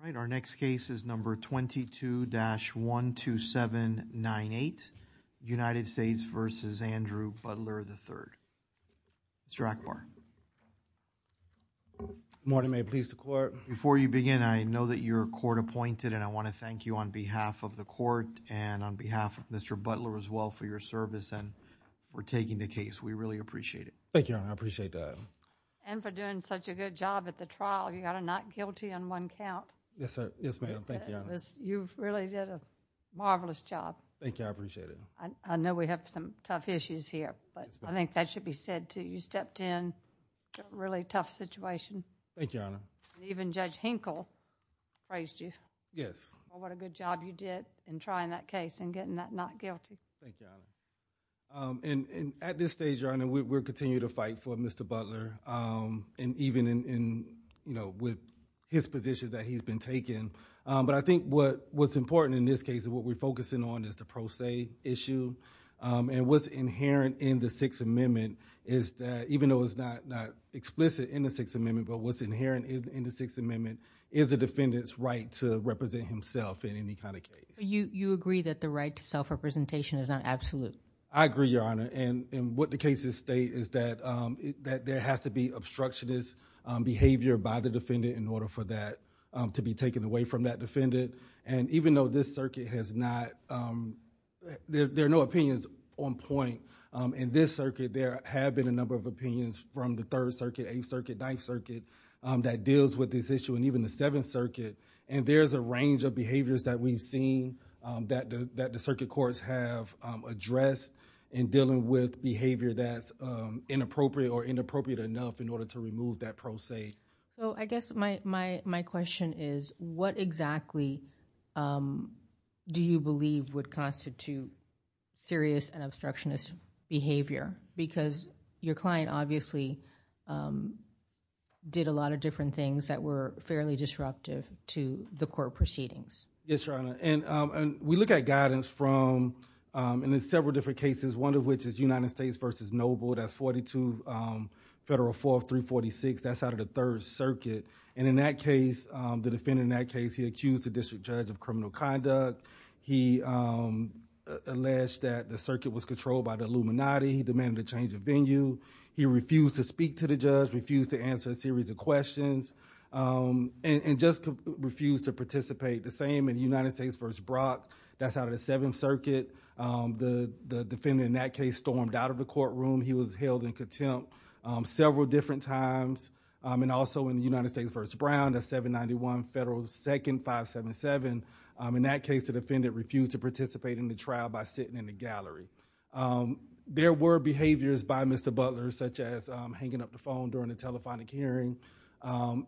All right, our next case is number 22-12798, United States v. Andrew Butler, III, and it's Andrew Butler, III. Mr. Ackbar. Good morning. May it please the Court. Before you begin, I know that you're court-appointed, and I want to thank you on behalf of the Court and on behalf of Mr. Butler as well for your service and for taking the case. We really appreciate it. Thank you, Your Honor. I appreciate that. And for doing such a good job at the trial. You got a not guilty on one count. Yes, sir. Yes, ma'am. Thank you, Your Honor. You really did a marvelous job. Thank you. I appreciate it. I know we have some tough issues here, but I think that should be said, too. You stepped in a really tough situation. Thank you, Your Honor. Even Judge Henkel praised you. Yes. Oh, what a good job you did in trying that case and getting that not guilty. Thank you, Your Honor. And at this stage, Your Honor, we'll continue to fight for Mr. Butler, and even in, you know, with his position that he's been taking. But I think what's important in this case is what we're focusing on is the pro se issue. And what's inherent in the Sixth Amendment is that even though it's not explicit in the Sixth Amendment, but what's inherent in the Sixth Amendment is the defendant's right to represent himself in any kind of case. You agree that the right to self-representation is not absolute? I agree, Your Honor. And what the cases state is that there has to be obstructionist behavior by the defendant in order for that to be taken away from that defendant. And even though this circuit has not, there are no opinions on point in this circuit, there have been a number of opinions from the Third Circuit, Eighth Circuit, Ninth Circuit that deals with this issue, and even the Seventh Circuit. And there's a range of behaviors that we've seen that the circuit courts have addressed in dealing with behavior that's inappropriate or inappropriate enough in order to remove that pro se. So I guess my question is, what exactly do you believe would constitute serious and obstructionist behavior? Because your client obviously did a lot of different things that were fairly disruptive to the court proceedings. Yes, Your Honor. And we look at guidance from, and in several different cases, one of which is United States v. Noble, that's 42 Federal 4346, that's out of the Third Circuit. And in that case, the defendant in that case, he accused the district judge of criminal conduct. He alleged that the circuit was controlled by the Illuminati. He demanded a change of venue. He refused to speak to the judge, refused to answer a series of questions, and just refused to participate. The same in United States v. Brock, that's out of the Seventh Circuit. The defendant in that case stormed out of the courtroom. He was held in contempt several different times. And also in United States v. Brown, that's 791 Federal 2nd 577. In that case, the defendant refused to participate in the trial by sitting in the gallery. There were behaviors by Mr. Butler, such as hanging up the phone during the telephonic hearing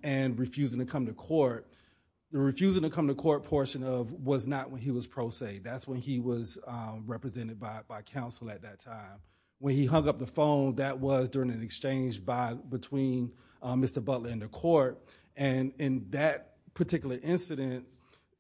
and refusing to come to court. The refusing to come to court portion was not when he was pro se. That's when he was represented by counsel at that time. When he hung up the phone, that was during an exchange between Mr. Butler and the court. And in that particular incident,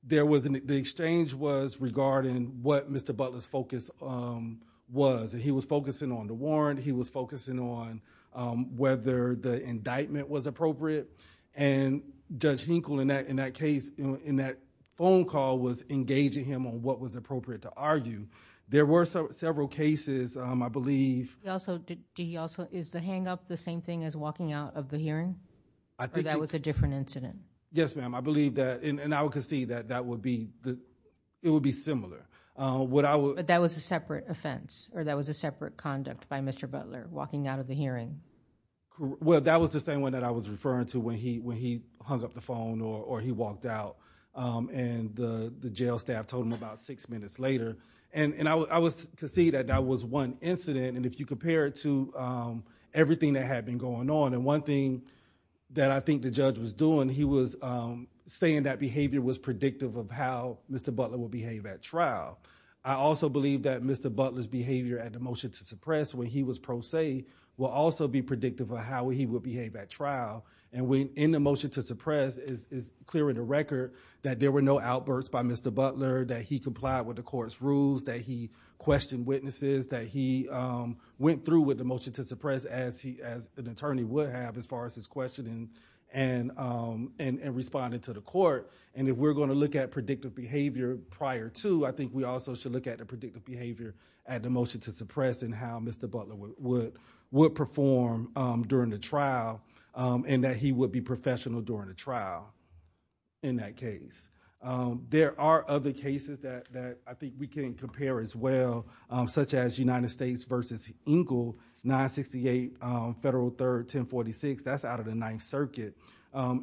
the exchange was regarding what Mr. Butler's focus was. He was focusing on the warrant. He was focusing on whether the indictment was appropriate. And Judge Hinkle in that case, in that phone call, was engaging him on what was appropriate to argue. There were several cases, I believe. Also, is the hang up the same thing as walking out of the hearing? Or that was a different incident? Yes, ma'am. I believe that. And I would concede that it would be similar. But that was a separate offense? Or that was a separate conduct by Mr. Butler, walking out of the hearing? Well, that was the same one that I was referring to when he hung up the phone or he walked out. And the jail staff told him about six minutes later. And I would concede that that was one incident. And if you compare it to everything that had been going on, and one thing that I think the judge was doing, he was saying that behavior was predictive of how Mr. Butler would behave at trial. I also believe that Mr. Butler's behavior at the trial would also be predictive of how he would behave at trial. And in the motion to suppress, it's clear in the record that there were no outbursts by Mr. Butler, that he complied with the court's rules, that he questioned witnesses, that he went through with the motion to suppress as an attorney would have as far as his questioning and responding to the court. And if we're going to look at predictive behavior prior to, I think we also should look at the predictive behavior at the motion to suppress and how Mr. Butler would perform during the trial and that he would be professional during the trial in that case. There are other cases that I think we can compare as well, such as United States v. Engle, 968 Federal Third 1046, that's out of the Ninth Circuit.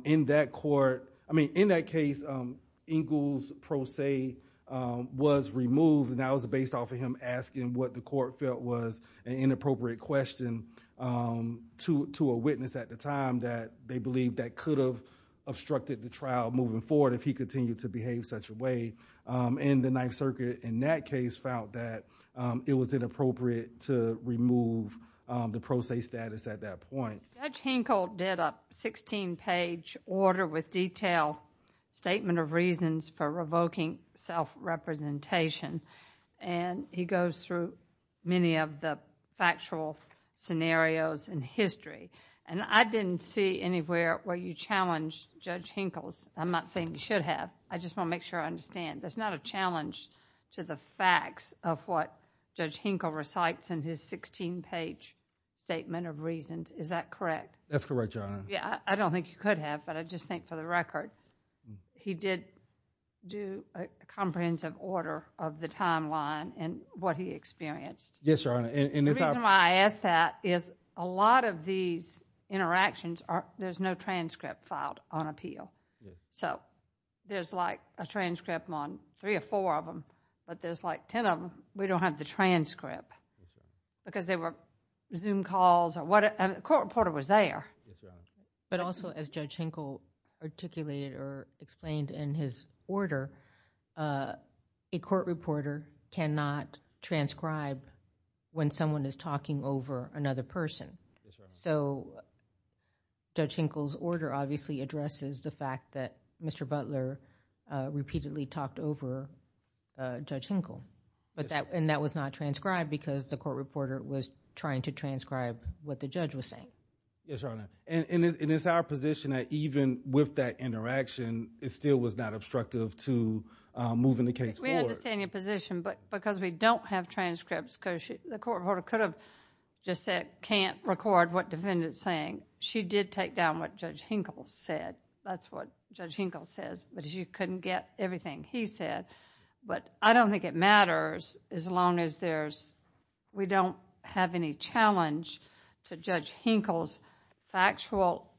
In that court, I mean, in that case, Engle's based off of him asking what the court felt was an inappropriate question to a witness at the time that they believe that could have obstructed the trial moving forward if he continued to behave such a way. And the Ninth Circuit in that case found that it was inappropriate to remove the pro se status at that point. Judge Hinkle did a 16-page order with detailed statement of reasons for revoking self-representation and he goes through many of the factual scenarios in history. And I didn't see anywhere where you challenged Judge Hinkle's. I'm not saying you should have. I just want to make sure I understand. There's not a challenge to the facts of what Judge Hinkle recites in his 16-page statement of reasons, is that correct? That's correct, Your Honor. Yeah, I don't think you could have, but I just think for the record, he did do a comprehensive order of the timeline and what he experienced. Yes, Your Honor. The reason why I ask that is a lot of these interactions, there's no transcript filed on appeal. So, there's like a transcript on three or four of them, but there's like 10 of them, we don't have the transcript because they were Zoom calls or whatever. The court reporter was there. But also, as Judge Hinkle articulated or explained in his order, a court reporter cannot transcribe when someone is talking over another person. So, Judge Hinkle's order obviously addresses the fact that Mr. Butler repeatedly talked over Judge Hinkle and that was not transcribed because the court reporter was trying to transcribe what the judge was saying. Yes, Your Honor. And it's our position that even with that interaction, it still was not obstructive to moving the case forward. We understand your position, but because we don't have transcripts, the court reporter could have just said, can't record what defendant's saying. She did take down what Judge Hinkle said. That's what Judge Hinkle says, but she couldn't get everything he said. But I don't think it matters as long as we don't have any challenge to Judge Hinkle's factual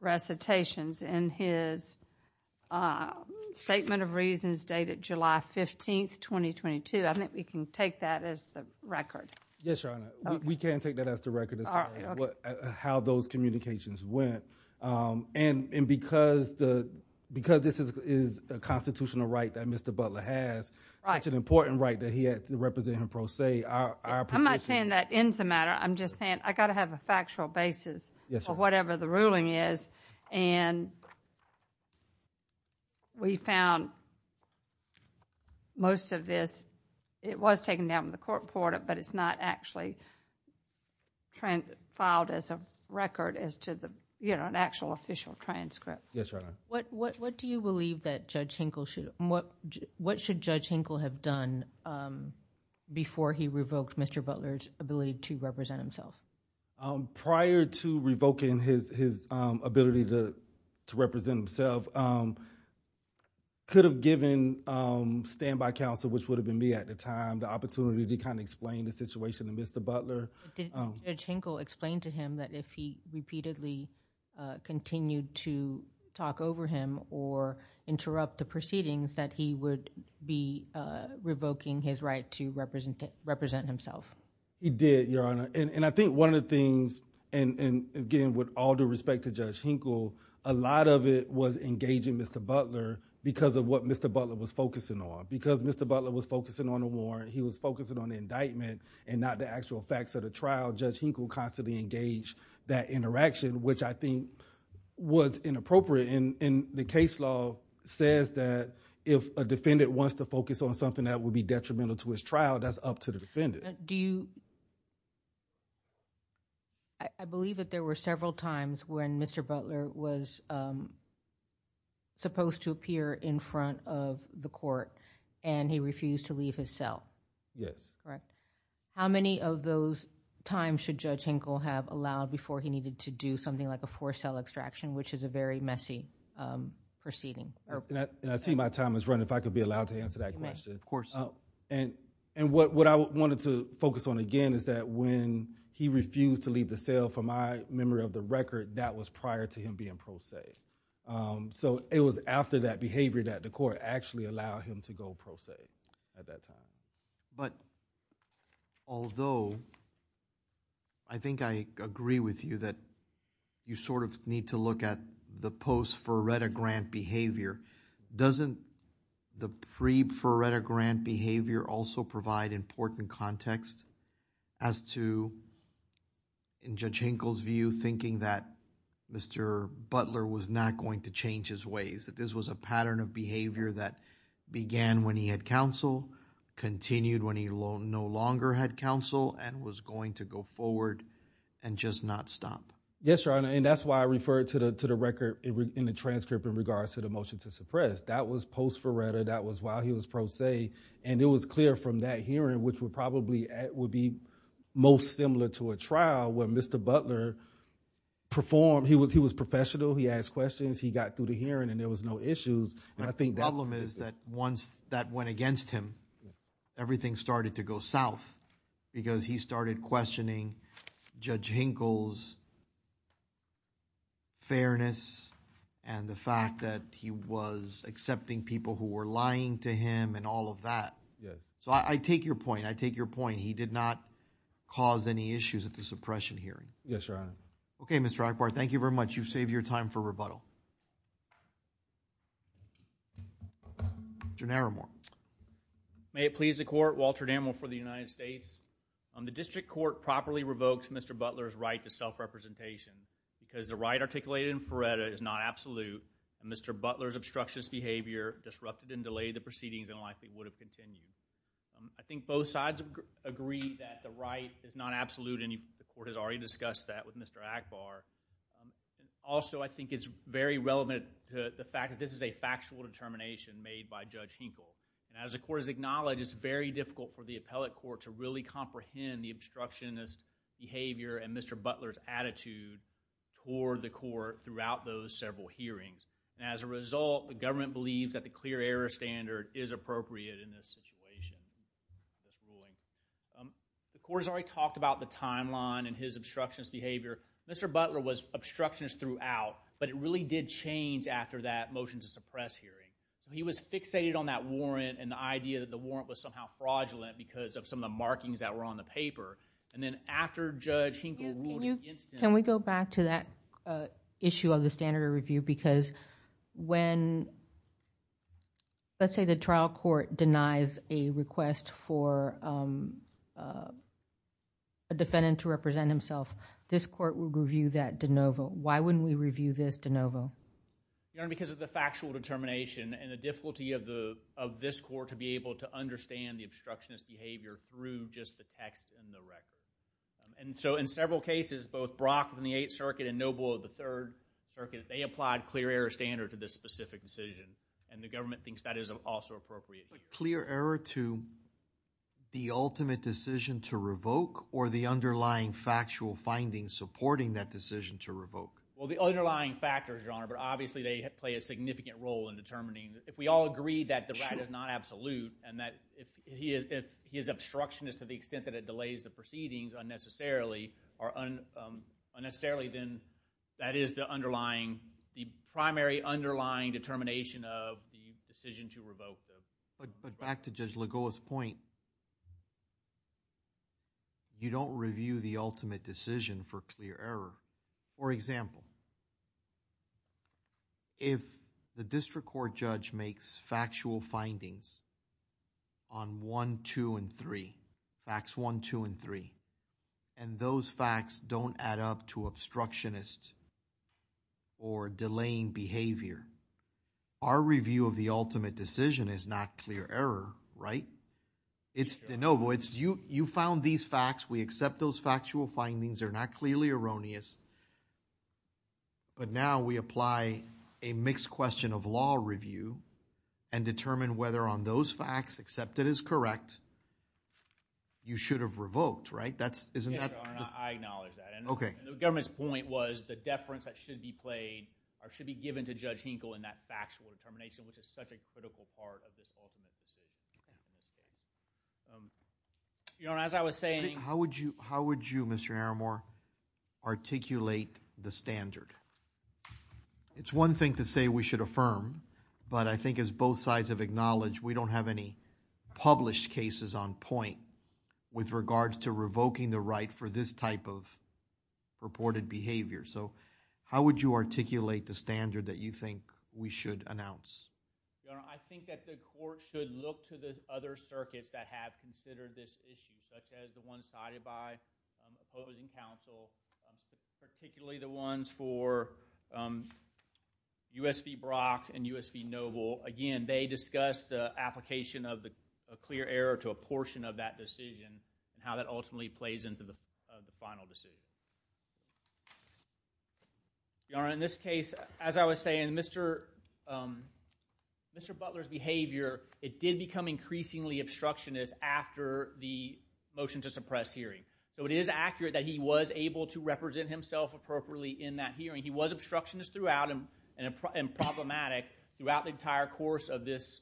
recitations in his statement of reasons dated July 15, 2022. I think we can take that as the record. Yes, Your Honor. We can take that as the record as far as how those communications went. And because this is a constitutional right that Mr. Butler has, it's an important right that he represented in pro se. I'm not saying that ends the matter. I'm just saying, I got to have a factual basis for whatever the ruling is. And we found most of this, it was taken down with the court reporter, but it's not actually filed as a record as to the, you know, an actual official transcript. Yes, Your Honor. What do you believe that Judge Hinkle should, what should Judge Hinkle have done before he revoked Mr. Butler's ability to represent himself? Prior to revoking his ability to represent himself, could have given standby counsel, which would have been me at the time, the opportunity to kind of explain the situation to Mr. Butler. Did Judge Hinkle explain to him that if he repeatedly continued to interrupt the proceedings that he would be revoking his right to represent himself? He did, Your Honor. And I think one of the things, and again, with all due respect to Judge Hinkle, a lot of it was engaging Mr. Butler because of what Mr. Butler was focusing on. Because Mr. Butler was focusing on the warrant, he was focusing on the indictment and not the actual facts of the trial. Judge Hinkle constantly engaged that interaction, which I think was inappropriate. And the case law says that if a defendant wants to focus on something that would be detrimental to his trial, that's up to the defendant. Do you... I believe that there were several times when Mr. Butler was supposed to appear in front of the court and he refused to leave his cell. Yes. Correct. How many of those times should Judge Hinkle have allowed before he needed to do something like a cell extraction, which is a very messy proceeding? And I see my time is running. If I could be allowed to answer that question. Of course. And what I wanted to focus on again is that when he refused to leave the cell, from my memory of the record, that was prior to him being pro se. So it was after that behavior that the court actually allowed him to go pro se at that time. But although I think I agree with you that you sort of need to look at the post-Ferretta-Grant behavior, doesn't the pre-Ferretta-Grant behavior also provide important context as to, in Judge Hinkle's view, thinking that Mr. Butler was not going to change his ways, that this was a pattern of behavior that began when he had counsel, continued when he no longer had counsel, and was going to go forward and just not stop? Yes, Your Honor. And that's why I referred to the record in the transcript in regards to the motion to suppress. That was post-Ferretta. That was while he was pro se. And it was clear from that hearing, which would probably be most similar to a trial where Mr. Butler performed, he was professional, he asked questions, he got through the hearing and there was no issues. My problem is that once that went against him, everything started to go south because he started questioning Judge Hinkle's fairness and the fact that he was accepting people who were lying to him and all of that. So I take your point. I take your point. He did not cause any issues at the suppression hearing. Yes, Your Honor. Okay, Mr. Ackbar, thank you very much. You've saved your time for rebuttal. Mr. Naramore. May it please the Court, Walter Dammel for the United States. The District Court properly revokes Mr. Butler's right to self-representation because the right articulated in Ferretta is not absolute and Mr. Butler's obstructionist behavior disrupted and delayed the proceedings in a life that would have continued. I think both sides agree that the right is not absolute and the Court has already discussed that with Mr. Ackbar. Also, I think it's very relevant to the fact that this is a factual determination made by Judge Hinkle. As the Court has acknowledged, it's very difficult for the appellate court to really comprehend the obstructionist behavior and Mr. Butler's attitude toward the Court throughout those several hearings. As a result, the government believes that the clear error standard is appropriate in this situation. The Court has already talked about the timeline and his obstructionist behavior. Mr. Butler was obstructionist throughout but it really did change after that motion to suppress hearing. He was fixated on that warrant and the idea that the warrant was somehow fraudulent because of some of the markings that were on the paper and then after Judge Hinkle ruled against him. Can we go back to that issue of the standard of review because when let's say the trial court denies a request for a defendant to represent himself, this Court will review that de novo. Why wouldn't we review this de novo? Because of the factual determination and the difficulty of this Court to be able to understand the obstructionist behavior through just the text in the record. In several cases, both Brock in the Eighth Circuit and Noble in the Third Circuit, they applied clear error standard to this specific decision and the government thinks that is also appropriate. Clear error to the ultimate decision to revoke or the underlying factual findings supporting that decision to revoke? Well, the underlying factors, Your Honor, but obviously they play a significant role in determining. If we all agree that the rat is not absolute and that his obstruction is to the extent that it delays the proceedings unnecessarily, then that is the primary underlying determination of the decision to revoke. But back to Judge Lagoa's point, you don't review the ultimate decision for clear error. For example, if the district court judge makes factual findings on 1, 2, and 3, facts 1, 2, and 3, and those facts don't add up to obstructionist or delaying behavior, our review of the ultimate decision is not clear error, right? It's de novo. You found these facts, we accept those but now we apply a mixed question of law review and determine whether on those facts, except it is correct, you should have revoked, right? I acknowledge that and the government's point was the deference that should be played or should be given to Judge Hinkle in that factual determination, which is such a critical part of this ultimate decision. Your Honor, as I was saying... How would you, Mr. Haramore, articulate the standard? It's one thing to say we should affirm but I think as both sides have acknowledged, we don't have any published cases on point with regards to revoking the right for this type of reported behavior. How would you articulate the standard that you think we should announce? Your Honor, I think that the court should look to the other circuits that have considered this issue, such as the ones cited by opposing counsel, particularly the ones for U.S. v. Brock and U.S. v. Noble. Again, they discussed the application of the clear error to a portion of that decision and how that ultimately plays into the final decision. Your Honor, in this case, as I was saying, Mr. Butler's behavior, it did become increasingly obstructionist after the motion to suppress hearing. It is accurate that he was able to represent himself appropriately in that hearing. He was obstructionist throughout and problematic throughout the entire course of this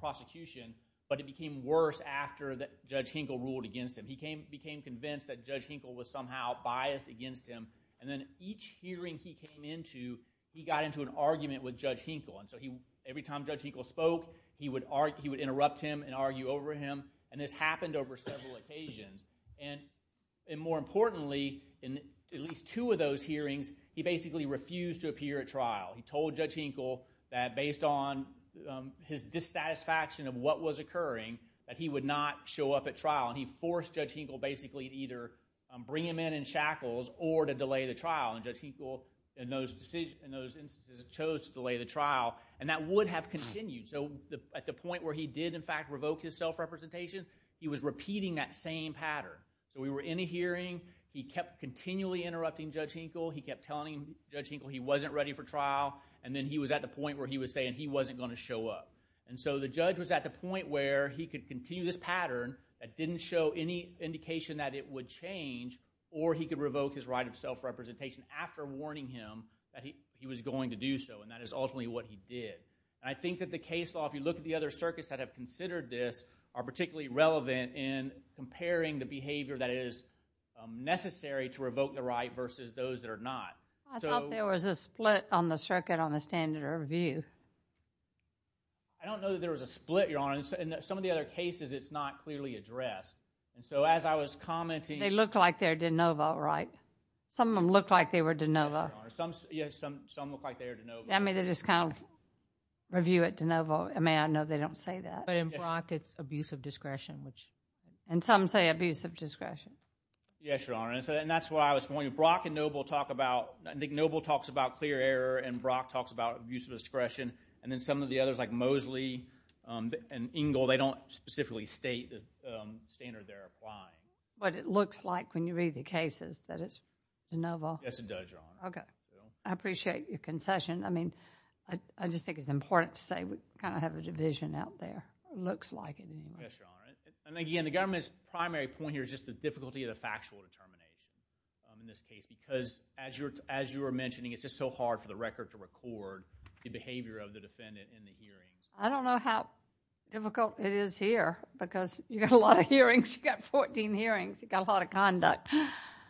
prosecution, but it became worse after Judge Hinkle ruled against him. He became convinced that Judge Hinkle was somehow biased against him and then each hearing he came into, he got into an argument with Judge Hinkle. Every time Judge Hinkle spoke, he would interrupt him and argue over him. This happened over several occasions. More importantly, in at least two of those hearings, he basically refused to appear at trial. He told Judge Hinkle that based on his dissatisfaction of what was occurring, that he would not show up at trial. He forced Judge Hinkle basically to either bring him in in shackles or to delay the trial. Judge Hinkle, in those instances, chose to delay the trial, and that would have continued. At the point where he did, in fact, revoke his self-representation, he was repeating that same pattern. We were in a hearing, he kept continually interrupting Judge Hinkle, he kept telling Judge Hinkle he wasn't ready for trial, and then he was at the point where he was saying he wasn't going to show up. The judge was at the point where he could continue this pattern that didn't show any indication that it would change, or he could revoke his right of self-representation after warning him that he was going to do so, and that is ultimately what he did. I think that the case law, if you look at the other circuits that have considered this, are particularly relevant in comparing the behavior that is necessary to revoke the right versus those that are not. I thought there was a split on the circuit on the standard of review. I don't know that there was a split, Your Honor. In some of the other cases, it's not clearly addressed. And so, as I was commenting— They look like they're de novo, right? Some of them look like they were de novo. Yes, Your Honor. Some look like they are de novo. I mean, they just kind of review it de novo. I mean, I know they don't say that. But in Brock, it's abuse of discretion, which— And some say abuse of discretion. Yes, Your Honor. And that's what I was pointing—Brock and Noble talk about—Nick Noble talks about clear error, and Brock talks about abuse of discretion, and then some of the others, like Mosley and Engle, they don't specifically state the standard they're applying. But it looks like, when you read the cases, that it's de novo. Yes, it does, Your Honor. Okay. I appreciate your concession. I mean, I just think it's important to say we kind of have a division out there. It looks like it. Yes, Your Honor. And again, the government's primary point here is just the difficulty of the factual determination in this case, because as you were mentioning, it's just so hard for the record to record the behavior of the defendant in the hearings. I don't know how difficult it is here, because you got a lot of hearings. You got 14 hearings. You got a lot of conduct.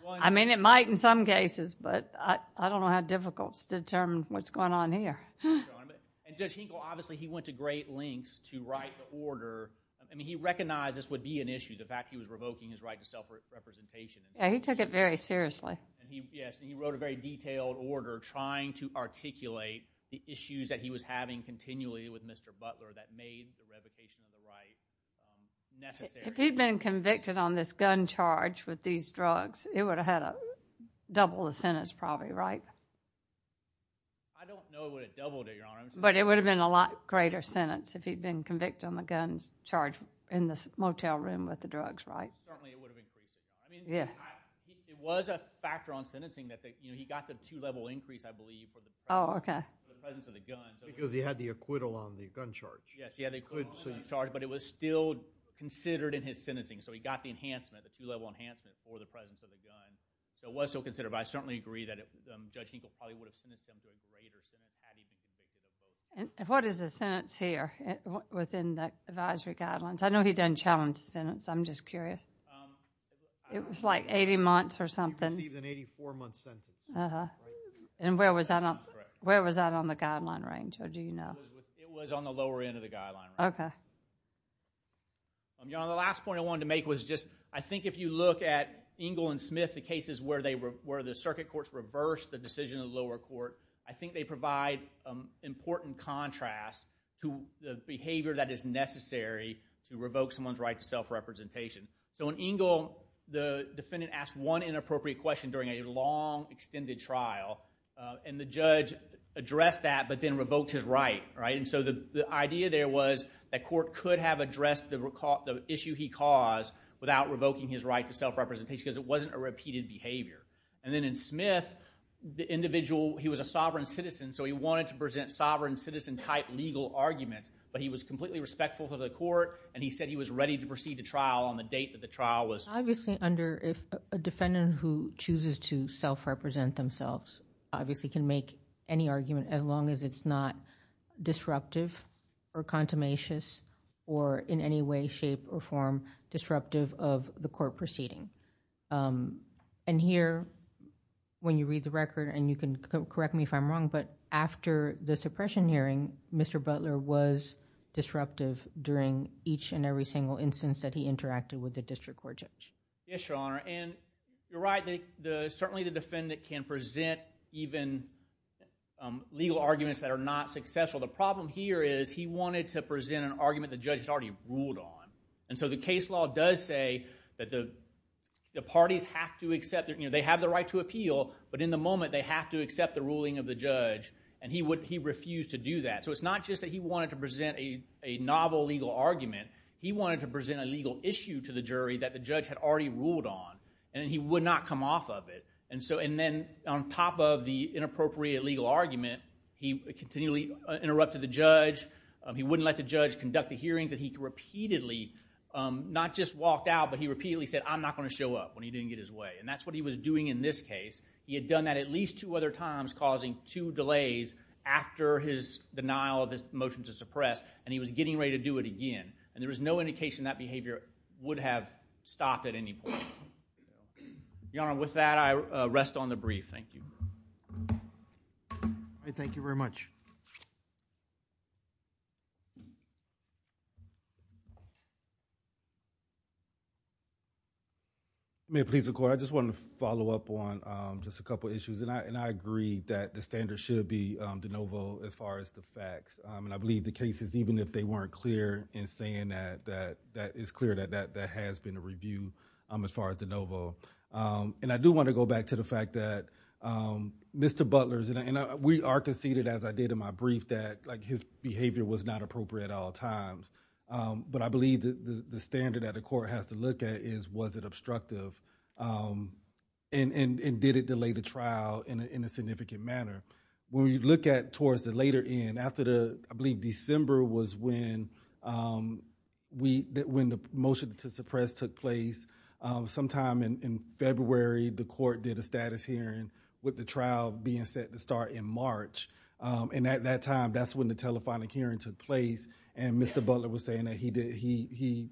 I mean, it might in some cases, but I don't know how difficult to determine what's going on here. And Judge Hinkle, obviously, he went to great lengths to write the order. I mean, he recognized this would be an issue, the fact he was revoking his right to self-representation. Yeah, he took it very seriously. Yes, he wrote a very detailed order trying to articulate the issues that he was having continually with Mr. Butler that made the revocation of the right necessary. If he'd been convicted on this gun charge with these drugs, it would have had a double the sentence probably, right? I don't know it would have doubled it, Your Honor. But it would have been a lot greater sentence if he'd been convicted on the gun charge in the motel room with the drugs, right? Certainly, it would have increased. I mean, it was a factor on sentencing that he got the two-level increase, I believe, for the presence of the gun. Because he had the acquittal on the gun charge. Yes, he had acquittal on the gun charge, but it was still considered in his sentencing. So, he got the enhancement, the two-level enhancement for the presence of the gun. It was still considered, but I certainly agree that Judge Hinkle probably would have sentenced him to a greater sentence had he been convicted. What is the sentence here within the advisory guidelines? I know he didn't challenge the sentence. I'm just curious. It was like 80 months or something. He received an 84-month sentence. And where was that on the guideline range? Or do you know? It was on the lower end of the guideline range. Okay. The last point I wanted to make was just, I think if you look at Engle and Smith, the cases where the circuit courts reversed the decision of the lower court, I think they provide important contrast to the behavior that is necessary to revoke someone's right to self-representation. So, in Engle, the defendant asked one inappropriate question during a long, extended trial, and the judge addressed that, but then revoked his right, right? And so, the idea there was that court could have addressed the issue he caused without revoking his right to self-representation because it wasn't a repeated behavior. And then in Smith, the individual, he was a sovereign citizen, so he wanted to present sovereign citizen-type legal arguments, but he was completely respectful to the court, and he said he was ready to proceed to trial on the date that the trial was. Obviously, under, if a defendant who chooses to self-represent themselves, obviously can make any argument as long as it's not disruptive or contumacious or in any way, shape, or form disruptive of the court proceeding. And here, when you read the record, and you can correct me if I'm wrong, but after the suppression hearing, Mr. Butler was disruptive during each and every single instance that he interacted with the district court judge. Yes, Your Honor, and you're right. Certainly, the defendant can present even legal arguments that are not successful. The problem here is he wanted to present an argument the judge had already ruled on. And so, the case law does say that the parties have to accept, they have the right to appeal, but in the moment, they have to accept the ruling of the judge, and he refused to do that. So, it's not just that he wanted to present a novel legal argument, he wanted to present a legal issue to the jury that the judge had already ruled on, and he would not come off of it. And so, and then, on top of the inappropriate legal argument, he continually interrupted the judge. He wouldn't let the judge conduct the hearings that he repeatedly, not just walked out, but he repeatedly said, I'm not going to show up when he didn't get his way. And that's what he was doing in this case. He had done that at least two other times, causing two delays after his denial of the motion to suppress, and he was getting ready to do it again. And there was no indication that behavior would have stopped at any point. Your Honor, with that, I rest on the brief. Thank you. All right, thank you very much. May it please the Court, I just wanted to follow up on just a couple issues, and I agree that the standard should be de novo as far as the facts. And I believe the cases, even if they weren't clear in saying that, that it's clear that that has been a review as far as de novo. And I do want to go back to the fact that Mr. Butler's, and we are conceded, as I did in my brief, that his behavior was not appropriate at all times. But I believe that the standard that the Court has to look at is, was it obstructive, and did it delay the trial in a significant manner? When you look at towards the later end, after the, I believe December was when the motion to suppress took place, sometime in February, the Court did a status hearing with the trial being set to start in March. And at that time, that's when the telephonic hearing took place, and Mr. Butler was saying that he did, he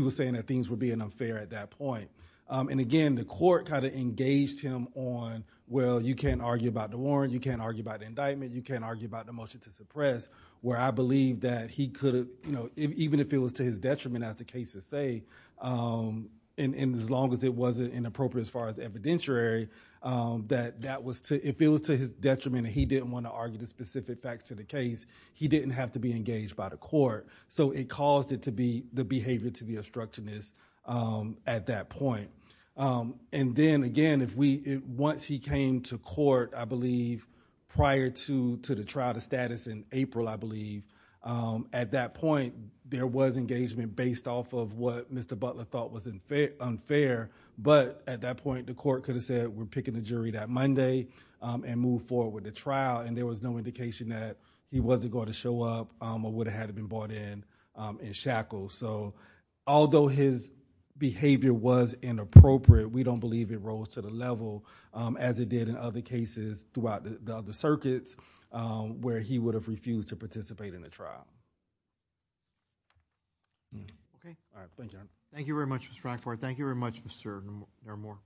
was saying that things were being unfair at that point. And again, the Court kind of engaged him on, well, you can't argue about the warrant, you can't argue about the indictment, you can't argue about the motion to suppress, where I believe that he could have, you know, even if it was to his detriment as the case is safe, and as long as it wasn't inappropriate as far as evidentiary, that that was to, if it was to his detriment, and he didn't want to argue the specific facts to the case, he didn't have to be engaged by the Court. So it caused it to be, the behavior to be obstructivist at that point. And then again, if we, once he came to court, I believe prior to the trial to status in April, I believe, at that point, there was engagement based off of what Mr. Butler thought was unfair. But at that point, the Court could have said, we're picking the jury that Monday and move forward with the trial, and there was no indication that he wasn't going to show up or would have had to been brought in and shackled. So although his behavior was inappropriate, we don't believe it rose to the level as it did in other cases throughout the other circuits where he would have refused to participate in the trial. Okay. All right. Thank you. Thank you very much, Mr. Rackford. Thank you very much, Mr. Naramore.